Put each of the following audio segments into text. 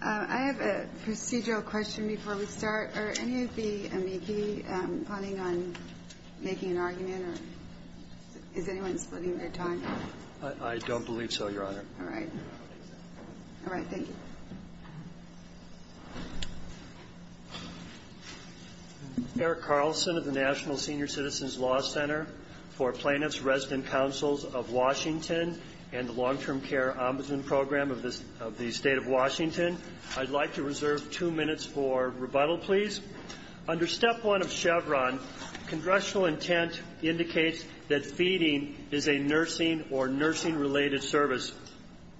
I have a procedural question before we start. Are any of the amici planning on making an argument, or is anyone splitting their time? I don't believe so, Your Honor. All right. All right, thank you. Eric Carlson of the National Senior Citizens Law Center for Plaintiffs' Resident Councils of Washington and the Long-Term Care Ombudsman Program of the State of Washington. I'd like to reserve two minutes for rebuttal, please. Under Step 1 of Chevron, congressional intent indicates that feeding is a nursing or nursing-related service,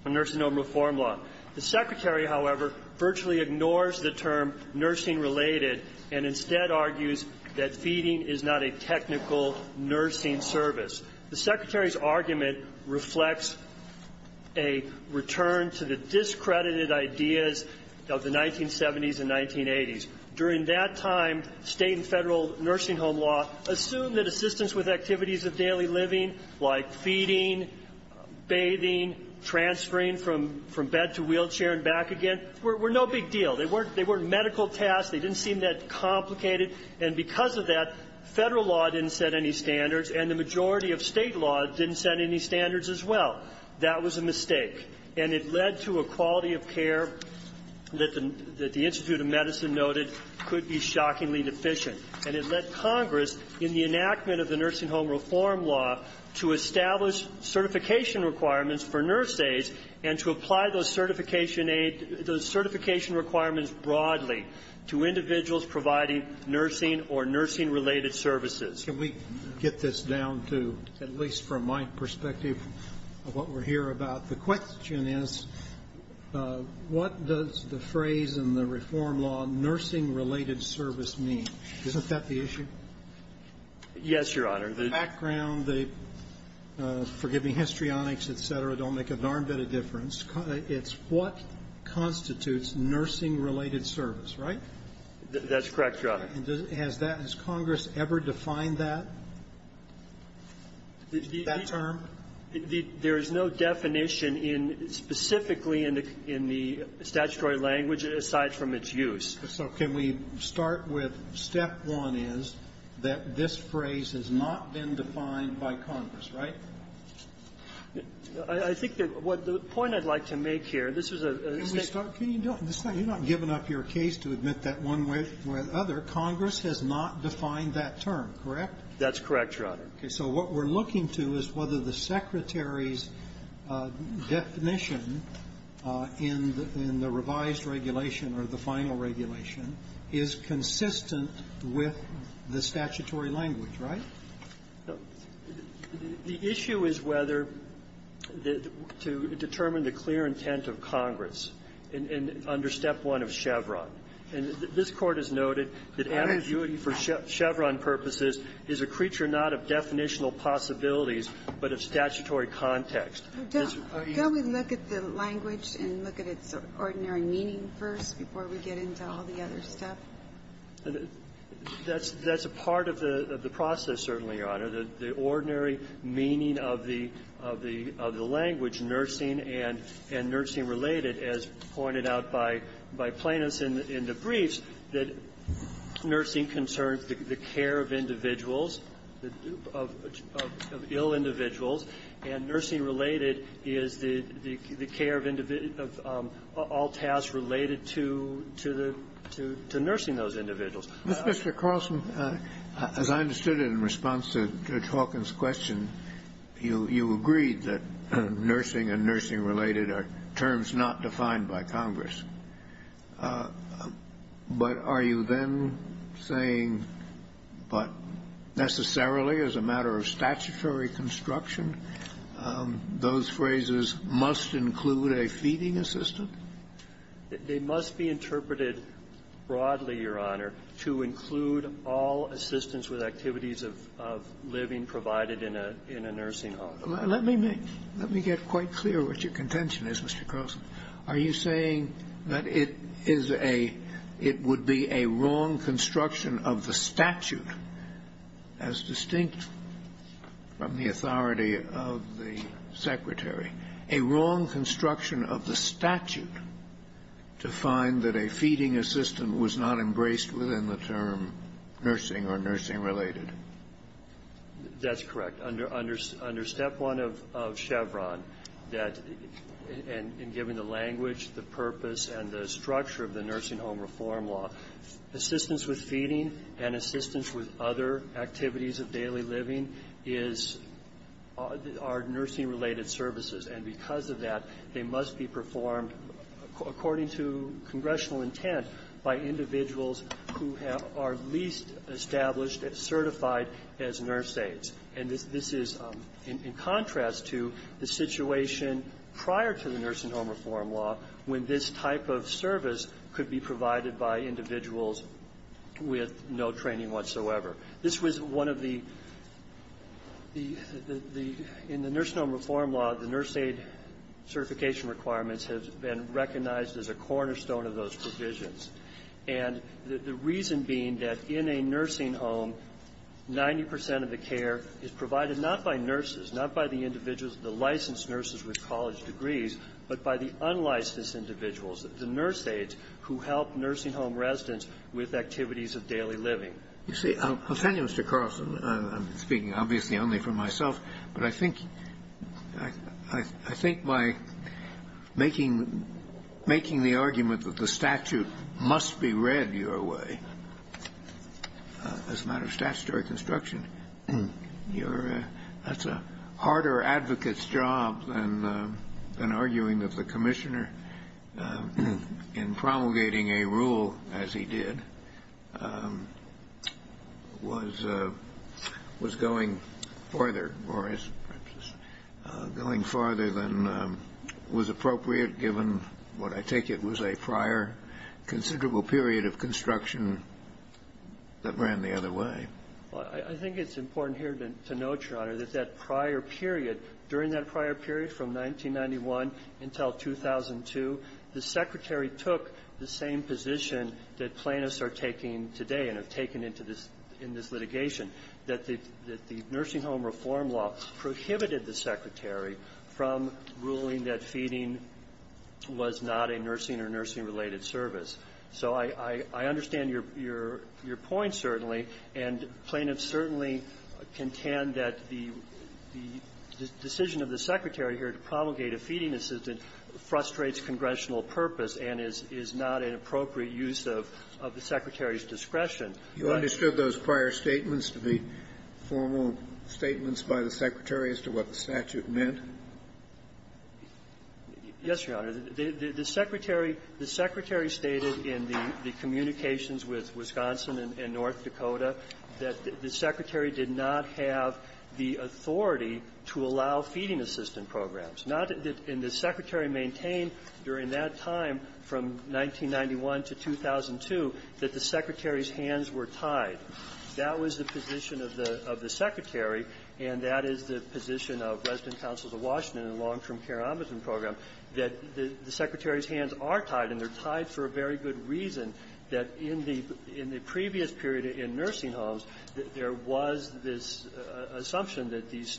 a nursing home reform law. The Secretary, however, virtually ignores the term nursing-related and instead argues that feeding is not a technical nursing service. The Secretary's argument reflects a return to the discredited ideas of the 1970s and 1980s. During that time, State and Federal nursing home law assumed that assistance with activities of daily living, like feeding, bathing, transferring from bed to wheelchair and back again, were no big deal. They weren't medical tasks. They didn't seem that complicated. And because of that, Federal law didn't set any standards, and the majority of State law didn't set any standards as well. That was a mistake. And it led to a quality of care that the Institute of Medicine noted could be shockingly deficient. And it led Congress in the enactment of the nursing home reform law to establish certification requirements for nurse aides and to apply those certification requirements broadly to individuals providing nursing or nursing-related services. Can we get this down to, at least from my perspective of what we're here about, the question is, what does the phrase in the reform law, nursing-related service, mean? Isn't that the issue? Yes, Your Honor. The background, the, forgive me, histrionics, et cetera, don't make a darn bit of difference. It's what constitutes nursing-related service, right? That's correct, Your Honor. Has that as Congress ever defined that, that term? There is no definition in specifically in the statutory language aside from its use. So can we start with step one is that this phrase has not been defined by Congress, right? I think that what the point I'd like to make here, this is a State law. Can you do it this way? You're not giving up your case to admit that one way or another. Congress has not defined that term, correct? That's correct, Your Honor. Okay. So what we're looking to is whether the Secretary's definition in the revised regulation or the final regulation is consistent with the statutory language, right? The issue is whether to determine the clear intent of Congress under step one of Chevron. And this Court has noted that ambiguity for Chevron purposes is a creature not of definitional possibilities, but of statutory context. Can we look at the language and look at its ordinary meaning first before we get into all the other stuff? That's a part of the process, certainly, Your Honor, the ordinary meaning of the language, nursing and nursing-related, as pointed out by Plaintiffs in the briefs, that nursing concerns the care of individuals, of ill individuals, and nursing-related is the care of all tasks related to nursing those individuals. Mr. Carlson, as I understood it in response to Judge Hawkins' question, you agreed that nursing and nursing-related are terms not defined by Congress. But are you then saying, but necessarily as a matter of statutory construction, those phrases must include a feeding assistant? They must be interpreted broadly, Your Honor, to include all assistance with activities of living provided in a nursing home. Let me make – let me get quite clear what your contention is, Mr. Carlson. Are you saying that it is a – it would be a wrong construction of the statute, as distinct from the authority of the Secretary, a wrong construction of the statute to find that a feeding assistant was not embraced within the term nursing or nursing-related? That's correct. Under Step 1 of Chevron, that – and given the language, the purpose, and the structure of the nursing home reform law, assistance with feeding and assistance with other activities of daily living is – are nursing-related services. And because of that, they must be performed according to congressional intent by individuals who have – are least established, certified as nurse aides. And this is in contrast to the situation prior to the nursing home reform law, when this type of service could be provided by individuals with no training whatsoever. This was one of the – the – in the nurse home reform law, the nurse aide certification requirements have been recognized as a cornerstone of those provisions. And the reason being that in a nursing home, 90 percent of the care is provided not by nurses, not by the individuals, the licensed nurses with college degrees, but by the unlicensed individuals, the nurse aides who help nursing home residents with activities of daily living. You see, I'll tell you, Mr. Carlson, I'm speaking obviously only for myself, but I think – I think by making – making the argument that the statute must be read your way as a matter of statutory construction, you're – that's a harder advocate's job than arguing that the commissioner, in promulgating a rule as he did, was – was going further, or is going farther than was appropriate given what I take it was a prior considerable period of construction that ran the other way. I think it's important here to note, Your Honor, that that prior period, during that prior period from 1991 until 2002, the Secretary took the same position that plaintiffs are taking today and have taken into this – in this litigation, that the – that the nursing home reform law prohibited the Secretary from ruling that feeding was not a nursing or nursing-related service. So I – I – I understand your – your point, certainly, and plaintiffs certainly contend that the – the decision of the Secretary here to promulgate a feeding assistant frustrates congressional purpose and is – is not an appropriate use of – of the Secretary's discretion. You understood those prior statements, the formal statements by the Secretary as to what the statute meant? Yes, Your Honor. The Secretary – the Secretary stated in the communications with Wisconsin and North Dakota that the Secretary did not have the authority to allow feeding assistant programs, not that – and the Secretary maintained during that time from 1991 to 2002 that the Secretary's hands were tied. That was the position of the – of the Secretary, and that is the position of resident counsels of Washington and the long-term care ombudsman program, that the Secretary's hands are tied, and they're tied for a very good reason that in the – in the previous period in nursing homes, there was this assumption that these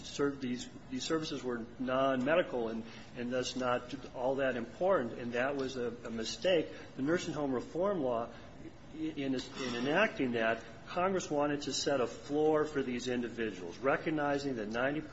services were nonmedical and thus not all that important, and that was a mistake. The nursing home reform law, in enacting that, Congress wanted to set a floor for these individuals. Recognizing that 90 –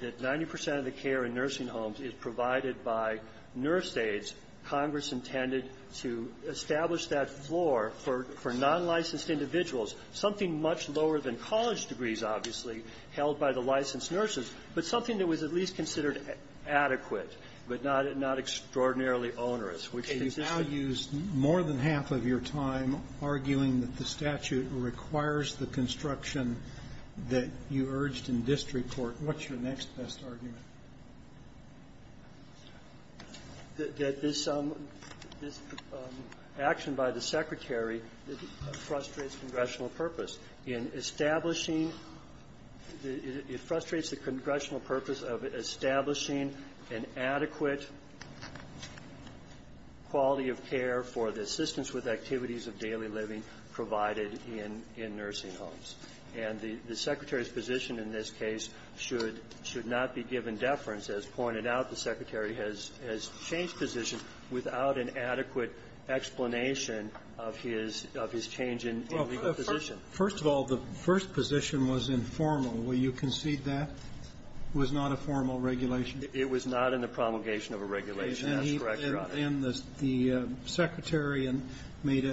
that 90 percent of the care in nursing homes is provided by nurse aides, Congress intended to establish that floor for nonlicensed individuals, something much lower than college degrees, obviously, held by the licensed nurses, but something that was at least considered adequate but not – not extraordinarily onerous, which consists of – Okay. You've now used more than half of your time arguing that the statute requires the construction that you urged in district court. What's your next best argument? That this – that this action by the Secretary frustrates congressional purpose in establishing – it frustrates the congressional purpose of establishing an adequate quality of care for the assistance with activities of daily living provided in nursing homes. And the Secretary's position in this case should – should not be given deference. As pointed out, the Secretary has changed position without an adequate explanation of his – of his change in legal position. Well, first of all, the first position was informal. Will you concede that was not a formal regulation? It was not in the promulgation of a regulation. That's correct, Your Honor. And the Secretary made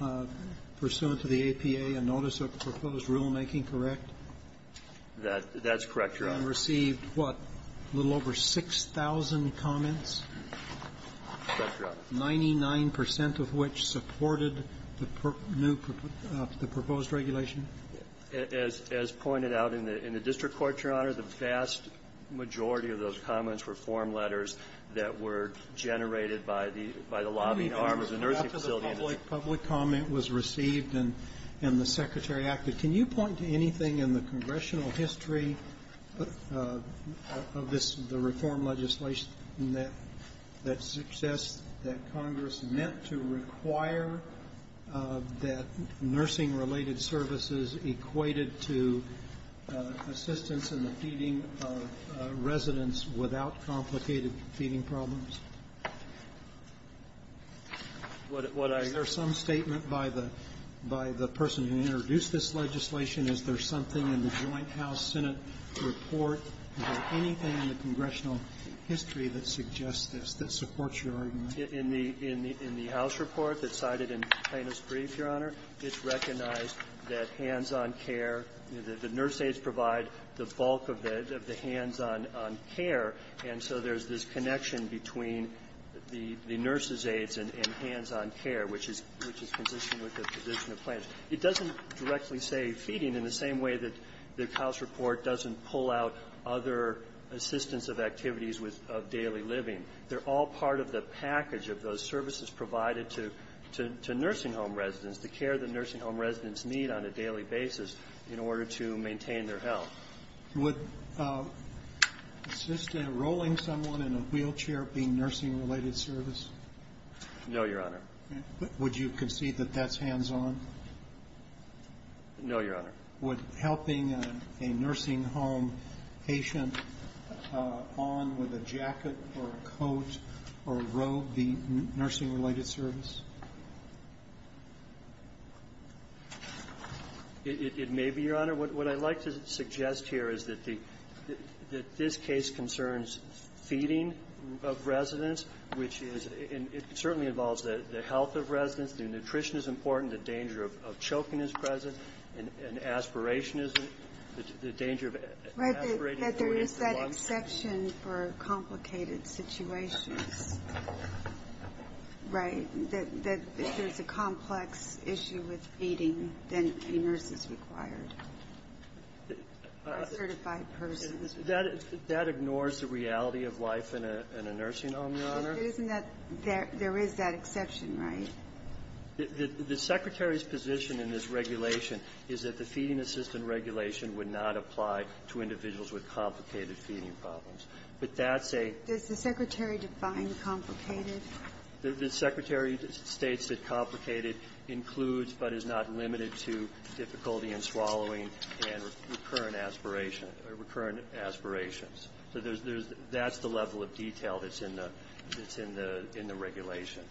a – pursuant to the APA, a notice of proposed rulemaking, correct? That's correct, Your Honor. And received, what, a little over 6,000 comments? That's correct. Ninety-nine percent of which supported the proposed regulation? As pointed out in the district court, Your Honor, the vast majority of those comments were form letters that were generated by the – by the lobbying arm of the nursing facility. After the public comment was received and the Secretary acted, can you point to anything in the congressional history of this – the reform legislation that – that suggests that Congress meant to require that nursing-related services equated to assistance in the feeding of residents without complicated feeding problems? What I – Is there some statement by the – by the person who introduced this legislation, is there something in the Joint House-Senate report, is there anything in the congressional history that suggests this, that supports your argument? In the – in the House report that's cited in Plaintiff's brief, Your Honor, it's recognized that hands-on care, you know, the nurse aides provide the bulk of the – of the hands-on care, and so there's this connection between the – the nurse's aides and hands-on care, which is – which is consistent with the position of Plaintiff. It doesn't directly say feeding in the same way that the House report doesn't pull out other assistance of activities with – of daily living. They're all part of the package of those services provided to – to nursing-home residents, the care that nursing-home residents need on a daily basis in order to maintain their health. Would assistant rolling someone in a wheelchair being nursing-related service? No, Your Honor. Would you concede that that's hands-on? No, Your Honor. Would helping a nursing-home patient on with a jacket or a coat or a robe be nursing-related service? It may be, Your Honor. What I'd like to suggest here is that the – that this case concerns feeding of residents, which is – and it certainly involves the health of residents. The nutrition is important. The danger of choking is present. And aspiration is – the danger of aspirating for a month. But there is that exception for complicated situations, right, that if there's a complex issue with feeding, then a nurse is required, a certified person. That ignores the reality of life in a nursing-home, Your Honor. But isn't that – there is that exception, right? The Secretary's position in this regulation is that the feeding assistant regulation would not apply to individuals with complicated feeding problems. But that's a – Does the Secretary define complicated? The Secretary states that complicated includes but is not limited to difficulty in swallowing and recurrent aspiration – recurrent aspirations. So there's – that's the level of detail that's in the regulation.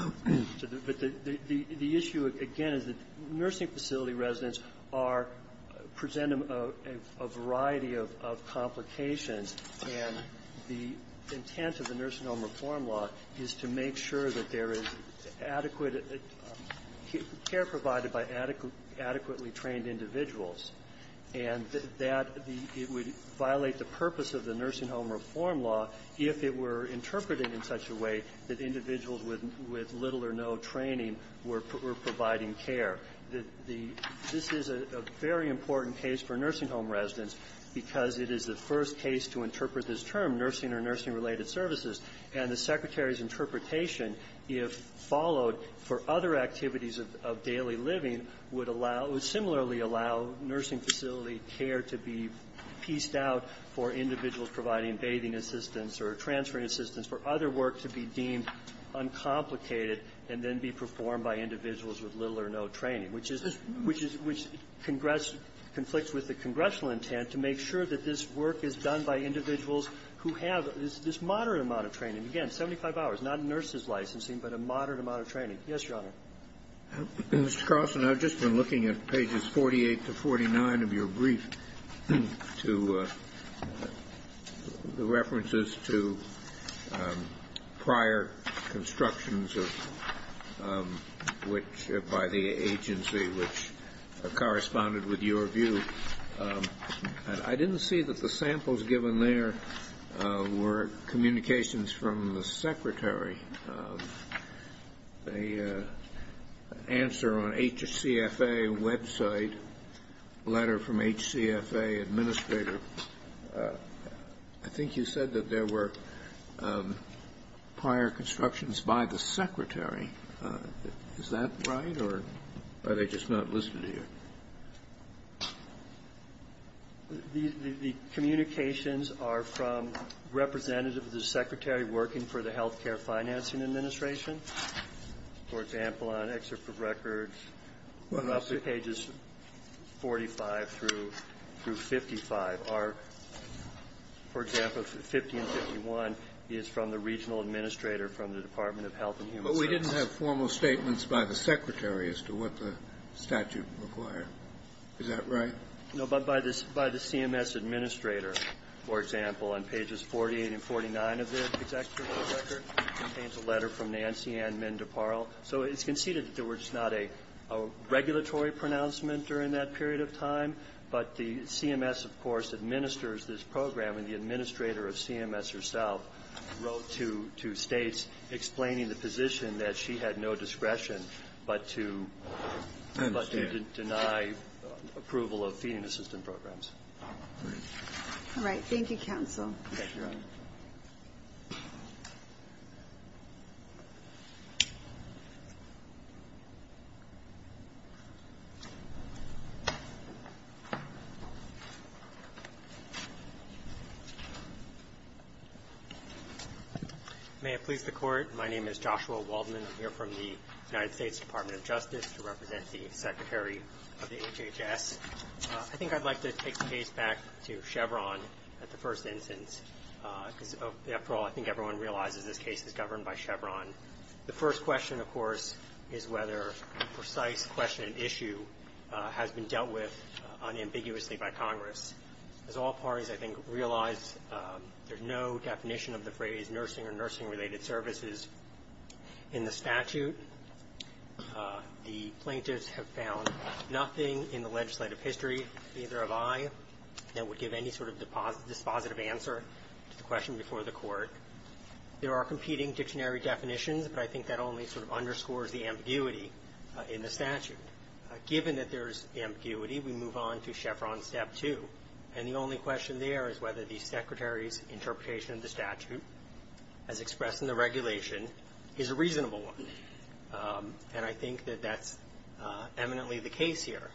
But the issue, again, is that nursing facility residents are – present a variety of complications, and the intent of the nursing-home reform law is to make sure that there is adequate care provided by adequately trained individuals. And that the – it would violate the purpose of the nursing-home reform law if it were interpreted in such a way that individuals with little or no training were providing care. This is a very important case for nursing-home residents because it is the first case to interpret this term, nursing or nursing-related services. And the Secretary's interpretation, if followed for other activities of daily living, would allow – would similarly allow nursing facility care to be pieced out for individuals providing bathing assistance or transferring assistance for other work to be deemed uncomplicated and then be performed by individuals with little or no training, which is – which is – which conflicts with the congressional intent to make sure that this work is done by individuals who have this moderate amount of training, again, 75 hours, not a nurse's licensing, but a moderate amount of training. Yes, Your Honor. Mr. Carson, I've just been looking at pages 48 to 49 of your brief to – the references to prior constructions of – which – by the agency, which corresponded with your view. I didn't see that the samples given there were communications from the Secretary. The answer on HCFA website, letter from HCFA administrator, I think you said that there were prior constructions by the Secretary. Is that right, or are they just not listed here? The communications are from representatives of the Secretary working for the Health Care Financing Administration. For example, on excerpt of records, roughly pages 45 through 55 are – for example, 50 and 51 is from the regional administrator from the Department of Health and Human Services. But we didn't have formal statements by the Secretary as to what the statute required. Is that right? No, but by the CMS administrator, for example, on pages 48 and 49 of the executive record, it contains a letter from Nancy Ann Mendeparle. So it's conceded that there was not a regulatory pronouncement during that period of time, but the CMS, of course, administers this program, and the administrator of CMS herself wrote to States explaining the position that she had no discretion but to deny approval of feeding assistant programs. All right. Thank you, counsel. Thank you, Your Honor. May it please the Court, my name is Joshua Waldman. I'm here from the United States Department of Justice to represent the Secretary of the HHS. I think I'd like to take the case back to Chevron at the first instance because, after all, I think everyone realizes this case is governed by Chevron. The first question, of course, is whether a precise question and issue has been dealt with unambiguously by Congress. As all parties, I think, realize there's no definition of the phrase nursing or nursing-related services in the statute. The plaintiffs have found nothing in the legislative history, neither have I, that would give any sort of dispositive answer to the question before the Court. There are competing dictionary definitions, but I think that only sort of underscores the ambiguity in the statute. Given that there's ambiguity, we move on to Chevron Step 2, and the only question there is whether the Secretary's interpretation of the statute, as expressed in the regulation, is a reasonable one. And I think that that's eminently the case here.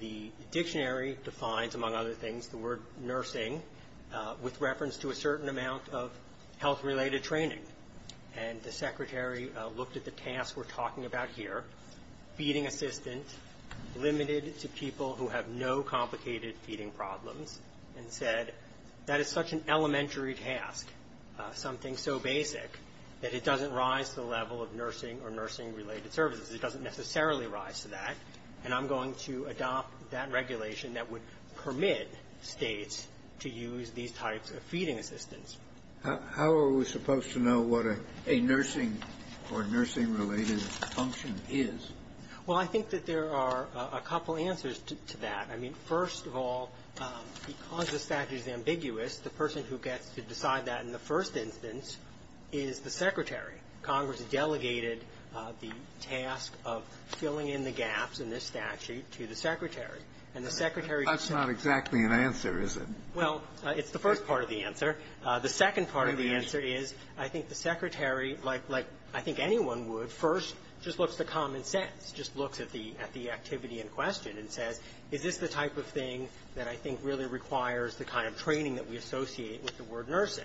The dictionary defines, among other things, the word nursing with reference to a certain amount of health-related training. And the Secretary looked at the task we're talking about here, feeding assistant limited to people who have no complicated feeding problems, and said that is such an elementary task, something so basic, that it doesn't rise to the level of nursing or nursing-related services. It doesn't necessarily rise to that, and I'm going to adopt that regulation that would permit States to use these types of feeding assistants. How are we supposed to know what a nursing or nursing-related function is? Well, I think that there are a couple answers to that. I mean, first of all, because the statute is ambiguous, the person who gets to decide that in the first instance is the Secretary. Congress delegated the task of filling in the gaps in this statute to the Secretary. And the Secretary That's not exactly an answer, is it? Well, it's the first part of the answer. The second part of the answer is, I think the Secretary, like anyone would, first just looks to common sense, just looks at the activity in question and says, is this the type of thing that I think really requires the kind of training that we associate with the word nursing?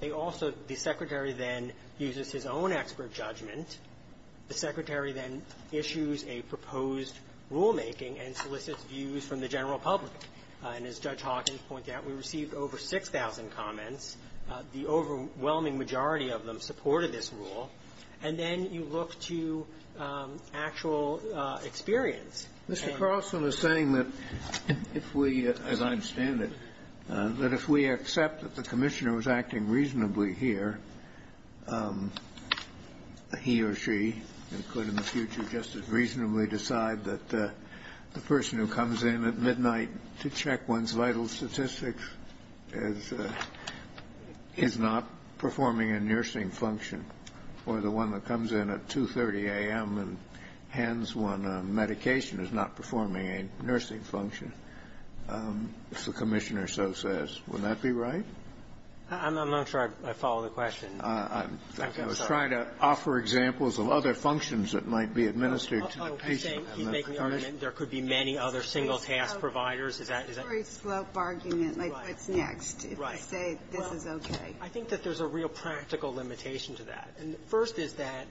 They also the Secretary then uses his own expert judgment. The Secretary then issues a proposed rulemaking and solicits views from the general public. And as Judge Hawkins pointed out, we received over 6,000 comments. The overwhelming majority of them supported this rule. And then you look to actual experience. Mr. Carlson is saying that if we, as I understand it, that if we accept that the Commissioner was acting reasonably here, he or she could in the future just as reasonably decide that the person who comes in at midnight to check one's vital statistics is not performing a nursing function, or the one that comes in at 2.30 a.m. and hands one a medication is not performing a nursing function, if the Commissioner so says. Would that be right? I'm not sure I follow the question. I'm trying to offer examples of other functions that might be administered to the patient. He's making the argument there could be many other single-task providers. Is that the case? It's a very slope argument, like what's next. Right. If you say this is okay. I think that there's a real practical limitation to that. And the first is that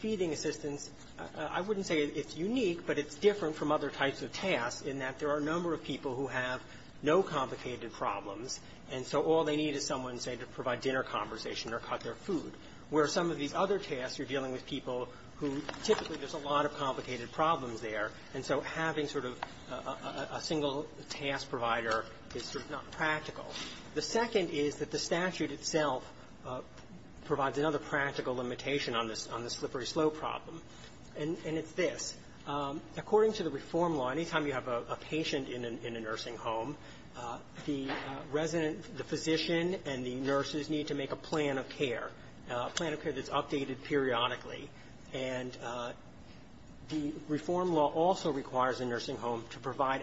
feeding assistance, I wouldn't say it's unique, but it's different from other types of tasks in that there are a number of people who have no complicated problems, and so all they need is someone, say, to provide dinner conversation or cut their food, where some of these other tasks, you're dealing with people who typically there's a lot of complicated problems there. And so having sort of a single-task provider is sort of not practical. The second is that the statute itself provides another practical limitation on this slippery slope problem. And it's this. According to the reform law, any time you have a patient in a nursing home, the resident the physician and the nurses need to make a plan of care, a plan of care that's updated periodically, and the reform law also requires a nursing home to provide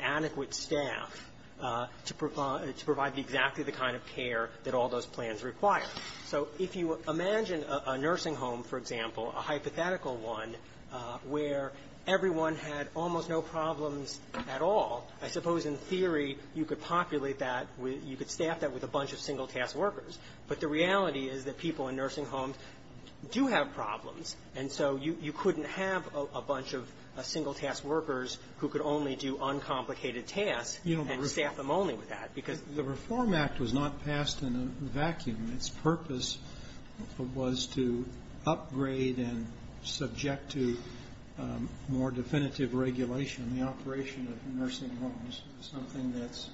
exactly the kind of care that all those plans require. So if you imagine a nursing home, for example, a hypothetical one where everyone had almost no problems at all, I suppose in theory you could populate that, you could staff that with a bunch of single-task workers. But the reality is that people in nursing homes do have problems, and so you couldn't have a bunch of single-task workers who could only do uncomplicated tasks and staff them only with that. Because the reform act was not passed in a vacuum. Its purpose was to upgrade and subject to more definitive regulation. The operation of nursing homes is something that's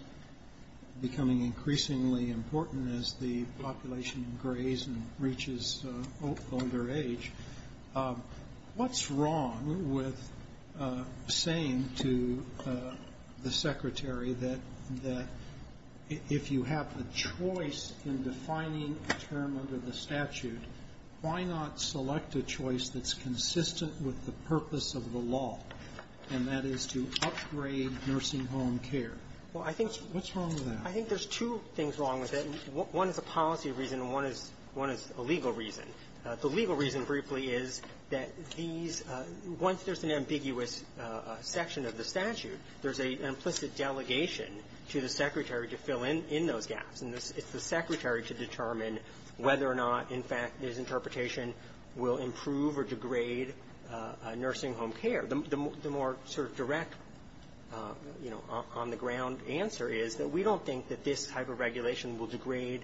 becoming increasingly important as the population greys and reaches older age. What's wrong with saying to the Secretary that if you have a choice in defining a term under the statute, why not select a choice that's consistent with the purpose of the law, and that is to upgrade nursing home care? What's wrong with that? I think there's two things wrong with it. One is a policy reason, and one is a legal reason. The legal reason, briefly, is that these, once there's an ambiguous section of the statute, there's an implicit delegation to the Secretary to fill in those gaps. And it's the Secretary to determine whether or not, in fact, his interpretation will improve or degrade nursing home care. The more sort of direct, you know, on-the-ground answer is that we don't think that this type of regulation will degrade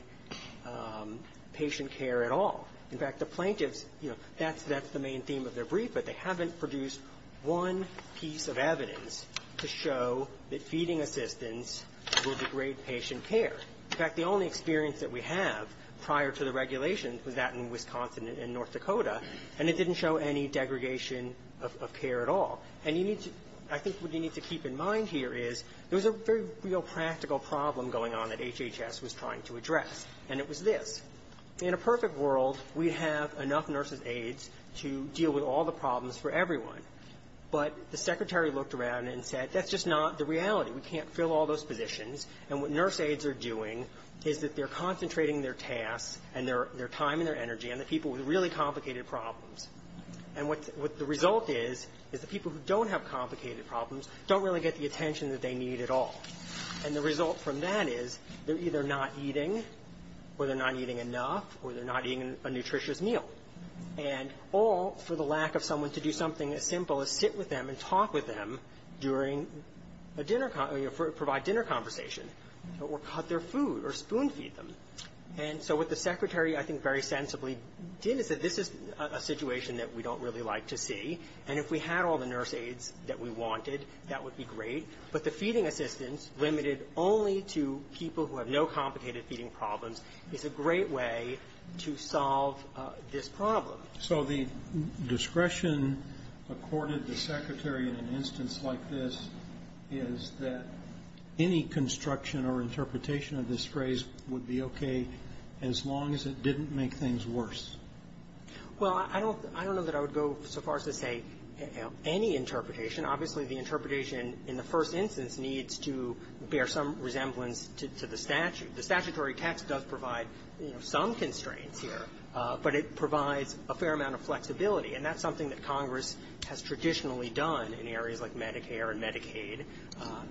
patient care at all. In fact, the plaintiffs, you know, that's the main theme of their brief, but they haven't produced one piece of evidence to show that feeding assistance will degrade patient care. In fact, the only experience that we have prior to the regulations was that in Wisconsin and North Dakota, and it didn't show any degradation of care at all. And you need to – I think what you need to keep in mind here is there was a very real practical problem going on that HHS was trying to address, and it was this. In a perfect world, we'd have enough nurses' aides to deal with all the problems for everyone, but the Secretary looked around and said, that's just not the reality. We can't fill all those positions, and what nurse aides are doing is that they're concentrating their tasks and their time and their energy on the people with really – who don't have complicated problems, don't really get the attention that they need at all. And the result from that is they're either not eating, or they're not eating enough, or they're not eating a nutritious meal. And all for the lack of someone to do something as simple as sit with them and talk with them during a dinner – provide dinner conversation, or cut their food, or spoon feed them. And so what the Secretary, I think, very sensibly did is that this is a situation that we don't really like to see, and if we had all the nurse aides that we wanted, that would be great. But the feeding assistance limited only to people who have no complicated feeding problems is a great way to solve this problem. So the discretion accorded to the Secretary in an instance like this is that any construction or interpretation of this phrase would be okay as long as it didn't make things worse? Well, I don't – I don't know that I would go so far as to say any interpretation. Obviously, the interpretation in the first instance needs to bear some resemblance to the statute. The statutory text does provide, you know, some constraints here, but it provides a fair amount of flexibility. And that's something that Congress has traditionally done in areas like Medicare and Medicaid.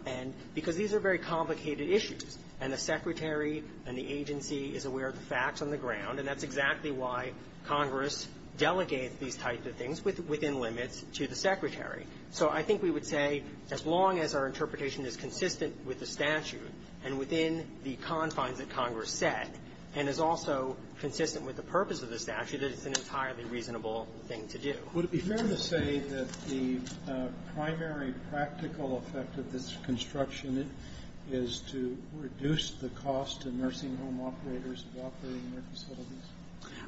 And – because these are very complicated issues. And the Secretary and the agency is facts on the ground, and that's exactly why Congress delegates these types of things within limits to the Secretary. So I think we would say as long as our interpretation is consistent with the statute and within the confines that Congress set, and is also consistent with the purpose of the statute, that it's an entirely reasonable thing to do. Would it be fair to say that the primary practical effect of this construction amendment is to reduce the cost to nursing home operators of operating their facilities?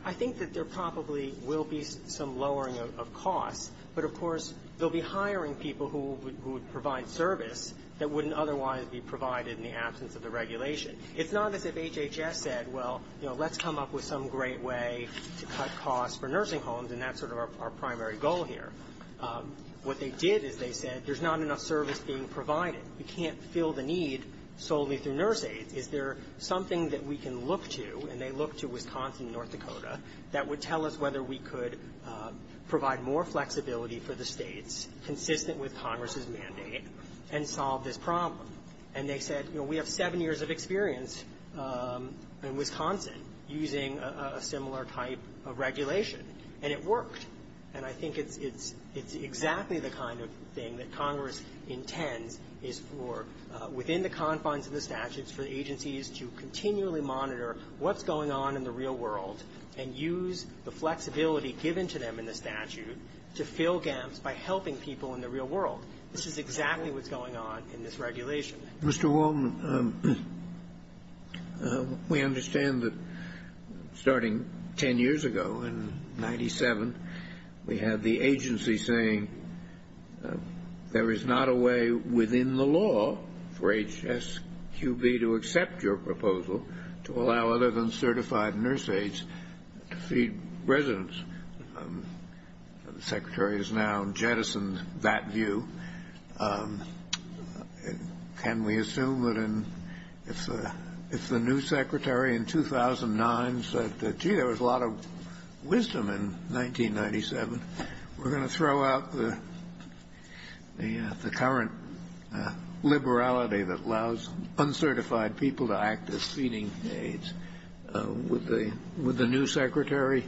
I think that there probably will be some lowering of costs. But, of course, they'll be hiring people who would provide service that wouldn't otherwise be provided in the absence of the regulation. It's not as if HHS said, well, you know, let's come up with some great way to cut costs for nursing homes, and that's sort of our primary goal here. What they did is they said there's not enough service being provided. We can't fill the need solely through nurse aides. Is there something that we can look to, and they looked to Wisconsin and North Dakota, that would tell us whether we could provide more flexibility for the States consistent with Congress's mandate and solve this problem? And they said, you know, we have seven years of experience in Wisconsin using a similar type of regulation, and it worked. And I think it's exactly the kind of thing that Congress intends is for, within the confines of the statutes, for agencies to continually monitor what's going on in the real world and use the flexibility given to them in the statute to fill gaps by helping people in the real world. This is exactly what's going on in this regulation. Mr. Waldman, we understand that starting 10 years ago in 97, we had the agency saying there is not a way within the law for HSQB to accept your proposal to allow other than certified nurse aides to feed residents. The Secretary has now jettisoned that view. Can we assume that if the new Secretary in 2009 said, gee, there was a lot of wisdom in 1997, we're going to throw out the current liberality that allows uncertified people to act as feeding aides? Would the new Secretary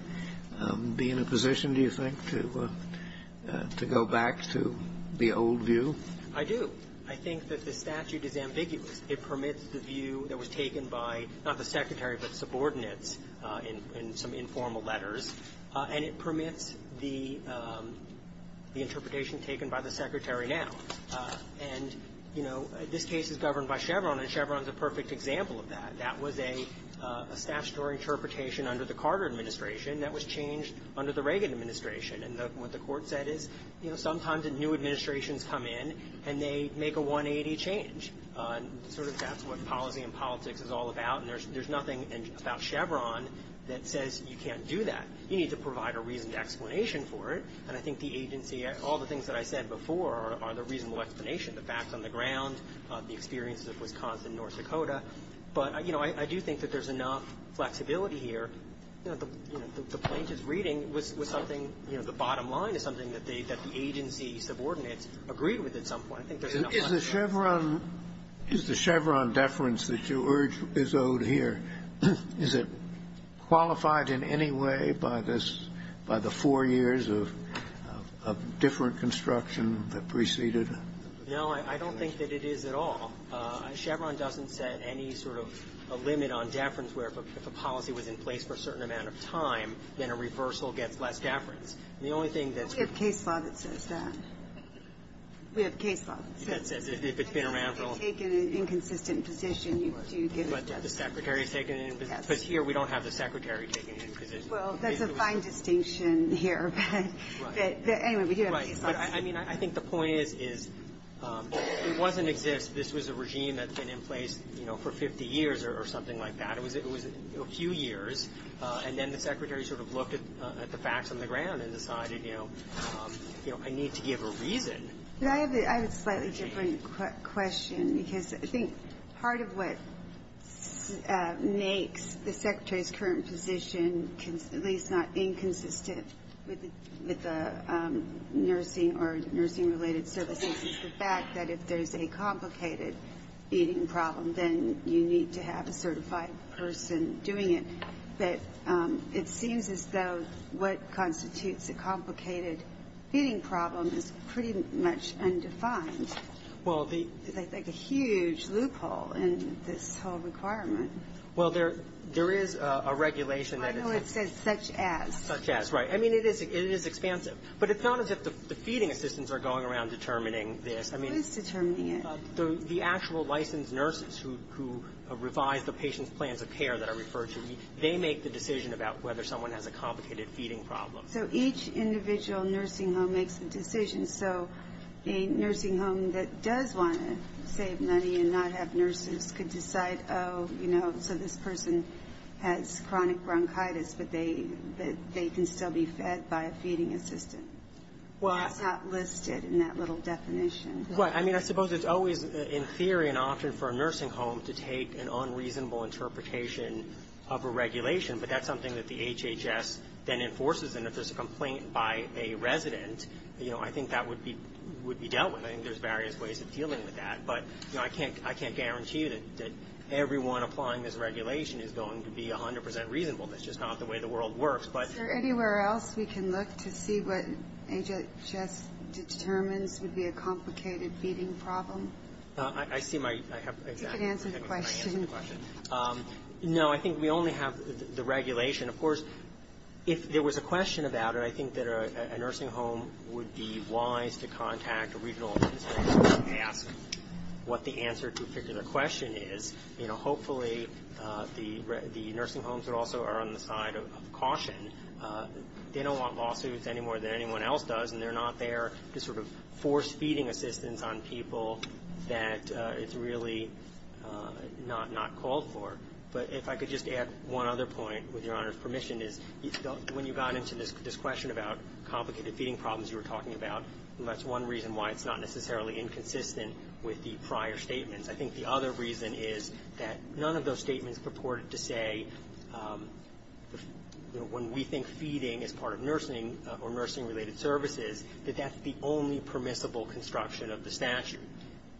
be in a position, do you think, to go back to the old view? I do. I think that the statute is ambiguous. It permits the view that was taken by, not the Secretary, but subordinates in some informal letters, and it permits the interpretation taken by the Secretary now. And, you know, this case is governed by Chevron, and Chevron is a perfect example of that. That was a statutory interpretation under the Carter administration that was changed under the Reagan administration. And what the Court said is, you know, sometimes new administrations come in and they make a 180 change. Sort of that's what policy and politics is all about, and there's nothing about Chevron that says you can't do that. You need to provide a reasoned explanation for it, and I think the agency, all the things that I said before are the reasonable explanation, the facts on the ground, the experiences of Wisconsin and North Dakota. But, you know, I do think that there's enough flexibility here. You know, the plaintiff's reading was something, you know, the bottom line is something that the agency subordinates agreed with at some point. I think there's enough flexibility. Is the Chevron deference that you urge is owed here, is it qualified in any way by this, by the four years of different construction that preceded it? No, I don't think that it is at all. Chevron doesn't set any sort of a limit on deference where if a policy was in place for a certain amount of time, then a reversal gets less deference. And the only thing that's we have case law that says that. We have case law that says that. If it's been around for a long time. If you've taken an inconsistent position, you do get a deference. But the Secretary's taken an inconsistent position. Because here we don't have the Secretary taking an inconsistent position. Well, that's a fine distinction here. Right. Anyway, we do have a case law. Right. But I mean, I think the point is, is it wasn't exist. This was a regime that's been in place, you know, for 50 years or something like that. It was a few years. And then the Secretary sort of looked at the facts on the ground and decided, you know, I need to give a reason. But I have a slightly different question. Because I think part of what makes the Secretary's current position at least not inconsistent with the nursing or nursing-related services is the fact that if there's a complicated feeding problem, then you need to have a certified person doing it. But it seems as though what constitutes a complicated feeding problem is pretty much undefined. Well, the It's like a huge loophole in this whole requirement. Well, there is a regulation that is I know it says such as. Such as. Right. I mean, it is expansive. But it's not as if the feeding assistants are going around determining this. Who is determining it? The actual licensed nurses who revise the patient's plans of care that I referred They make the decision about whether someone has a complicated feeding problem. So each individual nursing home makes a decision. So a nursing home that does want to save money and not have nurses could decide, oh, you know, so this person has chronic bronchitis, but they can still be fed by a feeding assistant. Well. It's not listed in that little definition. Well, I mean, I suppose it's always in theory an option for a nursing home to take an unreasonable interpretation of a regulation. But that's something that the HHS then enforces. And if there's a complaint by a resident, you know, I think that would be dealt with. I think there's various ways of dealing with that. But, you know, I can't guarantee that everyone applying this regulation is going to be 100 percent reasonable. That's just not the way the world works. Is there anywhere else we can look to see what HHS determines would be a complicated feeding problem? I see my. You can answer the question. No, I think we only have the regulation. Of course, if there was a question about it, I think that a nursing home would be wise to contact a regional institution and ask what the answer to a particular question is. You know, hopefully the nursing homes that also are on the side of caution, they don't want lawsuits any more than anyone else does, and they're not there to sort of force feeding assistants on people that it's really not called for. But if I could just add one other point, with Your Honor's permission, is when you got into this question about complicated feeding problems you were talking about, that's one reason why it's not necessarily inconsistent with the prior statements. I think the other reason is that none of those statements purported to say, you know, when we think feeding is part of nursing or nursing-related services, that that's the only permissible construction of the statute.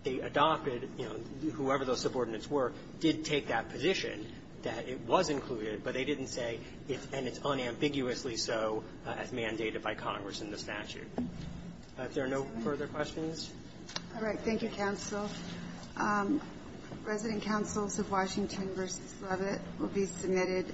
They adopted, you know, whoever those subordinates were did take that position that it was included, but they didn't say it's unambiguously so as mandated by Congress in the statute. If there are no further questions. All right. Thank you, counsel. Resident counsels of Washington v. Levitt will be submitted.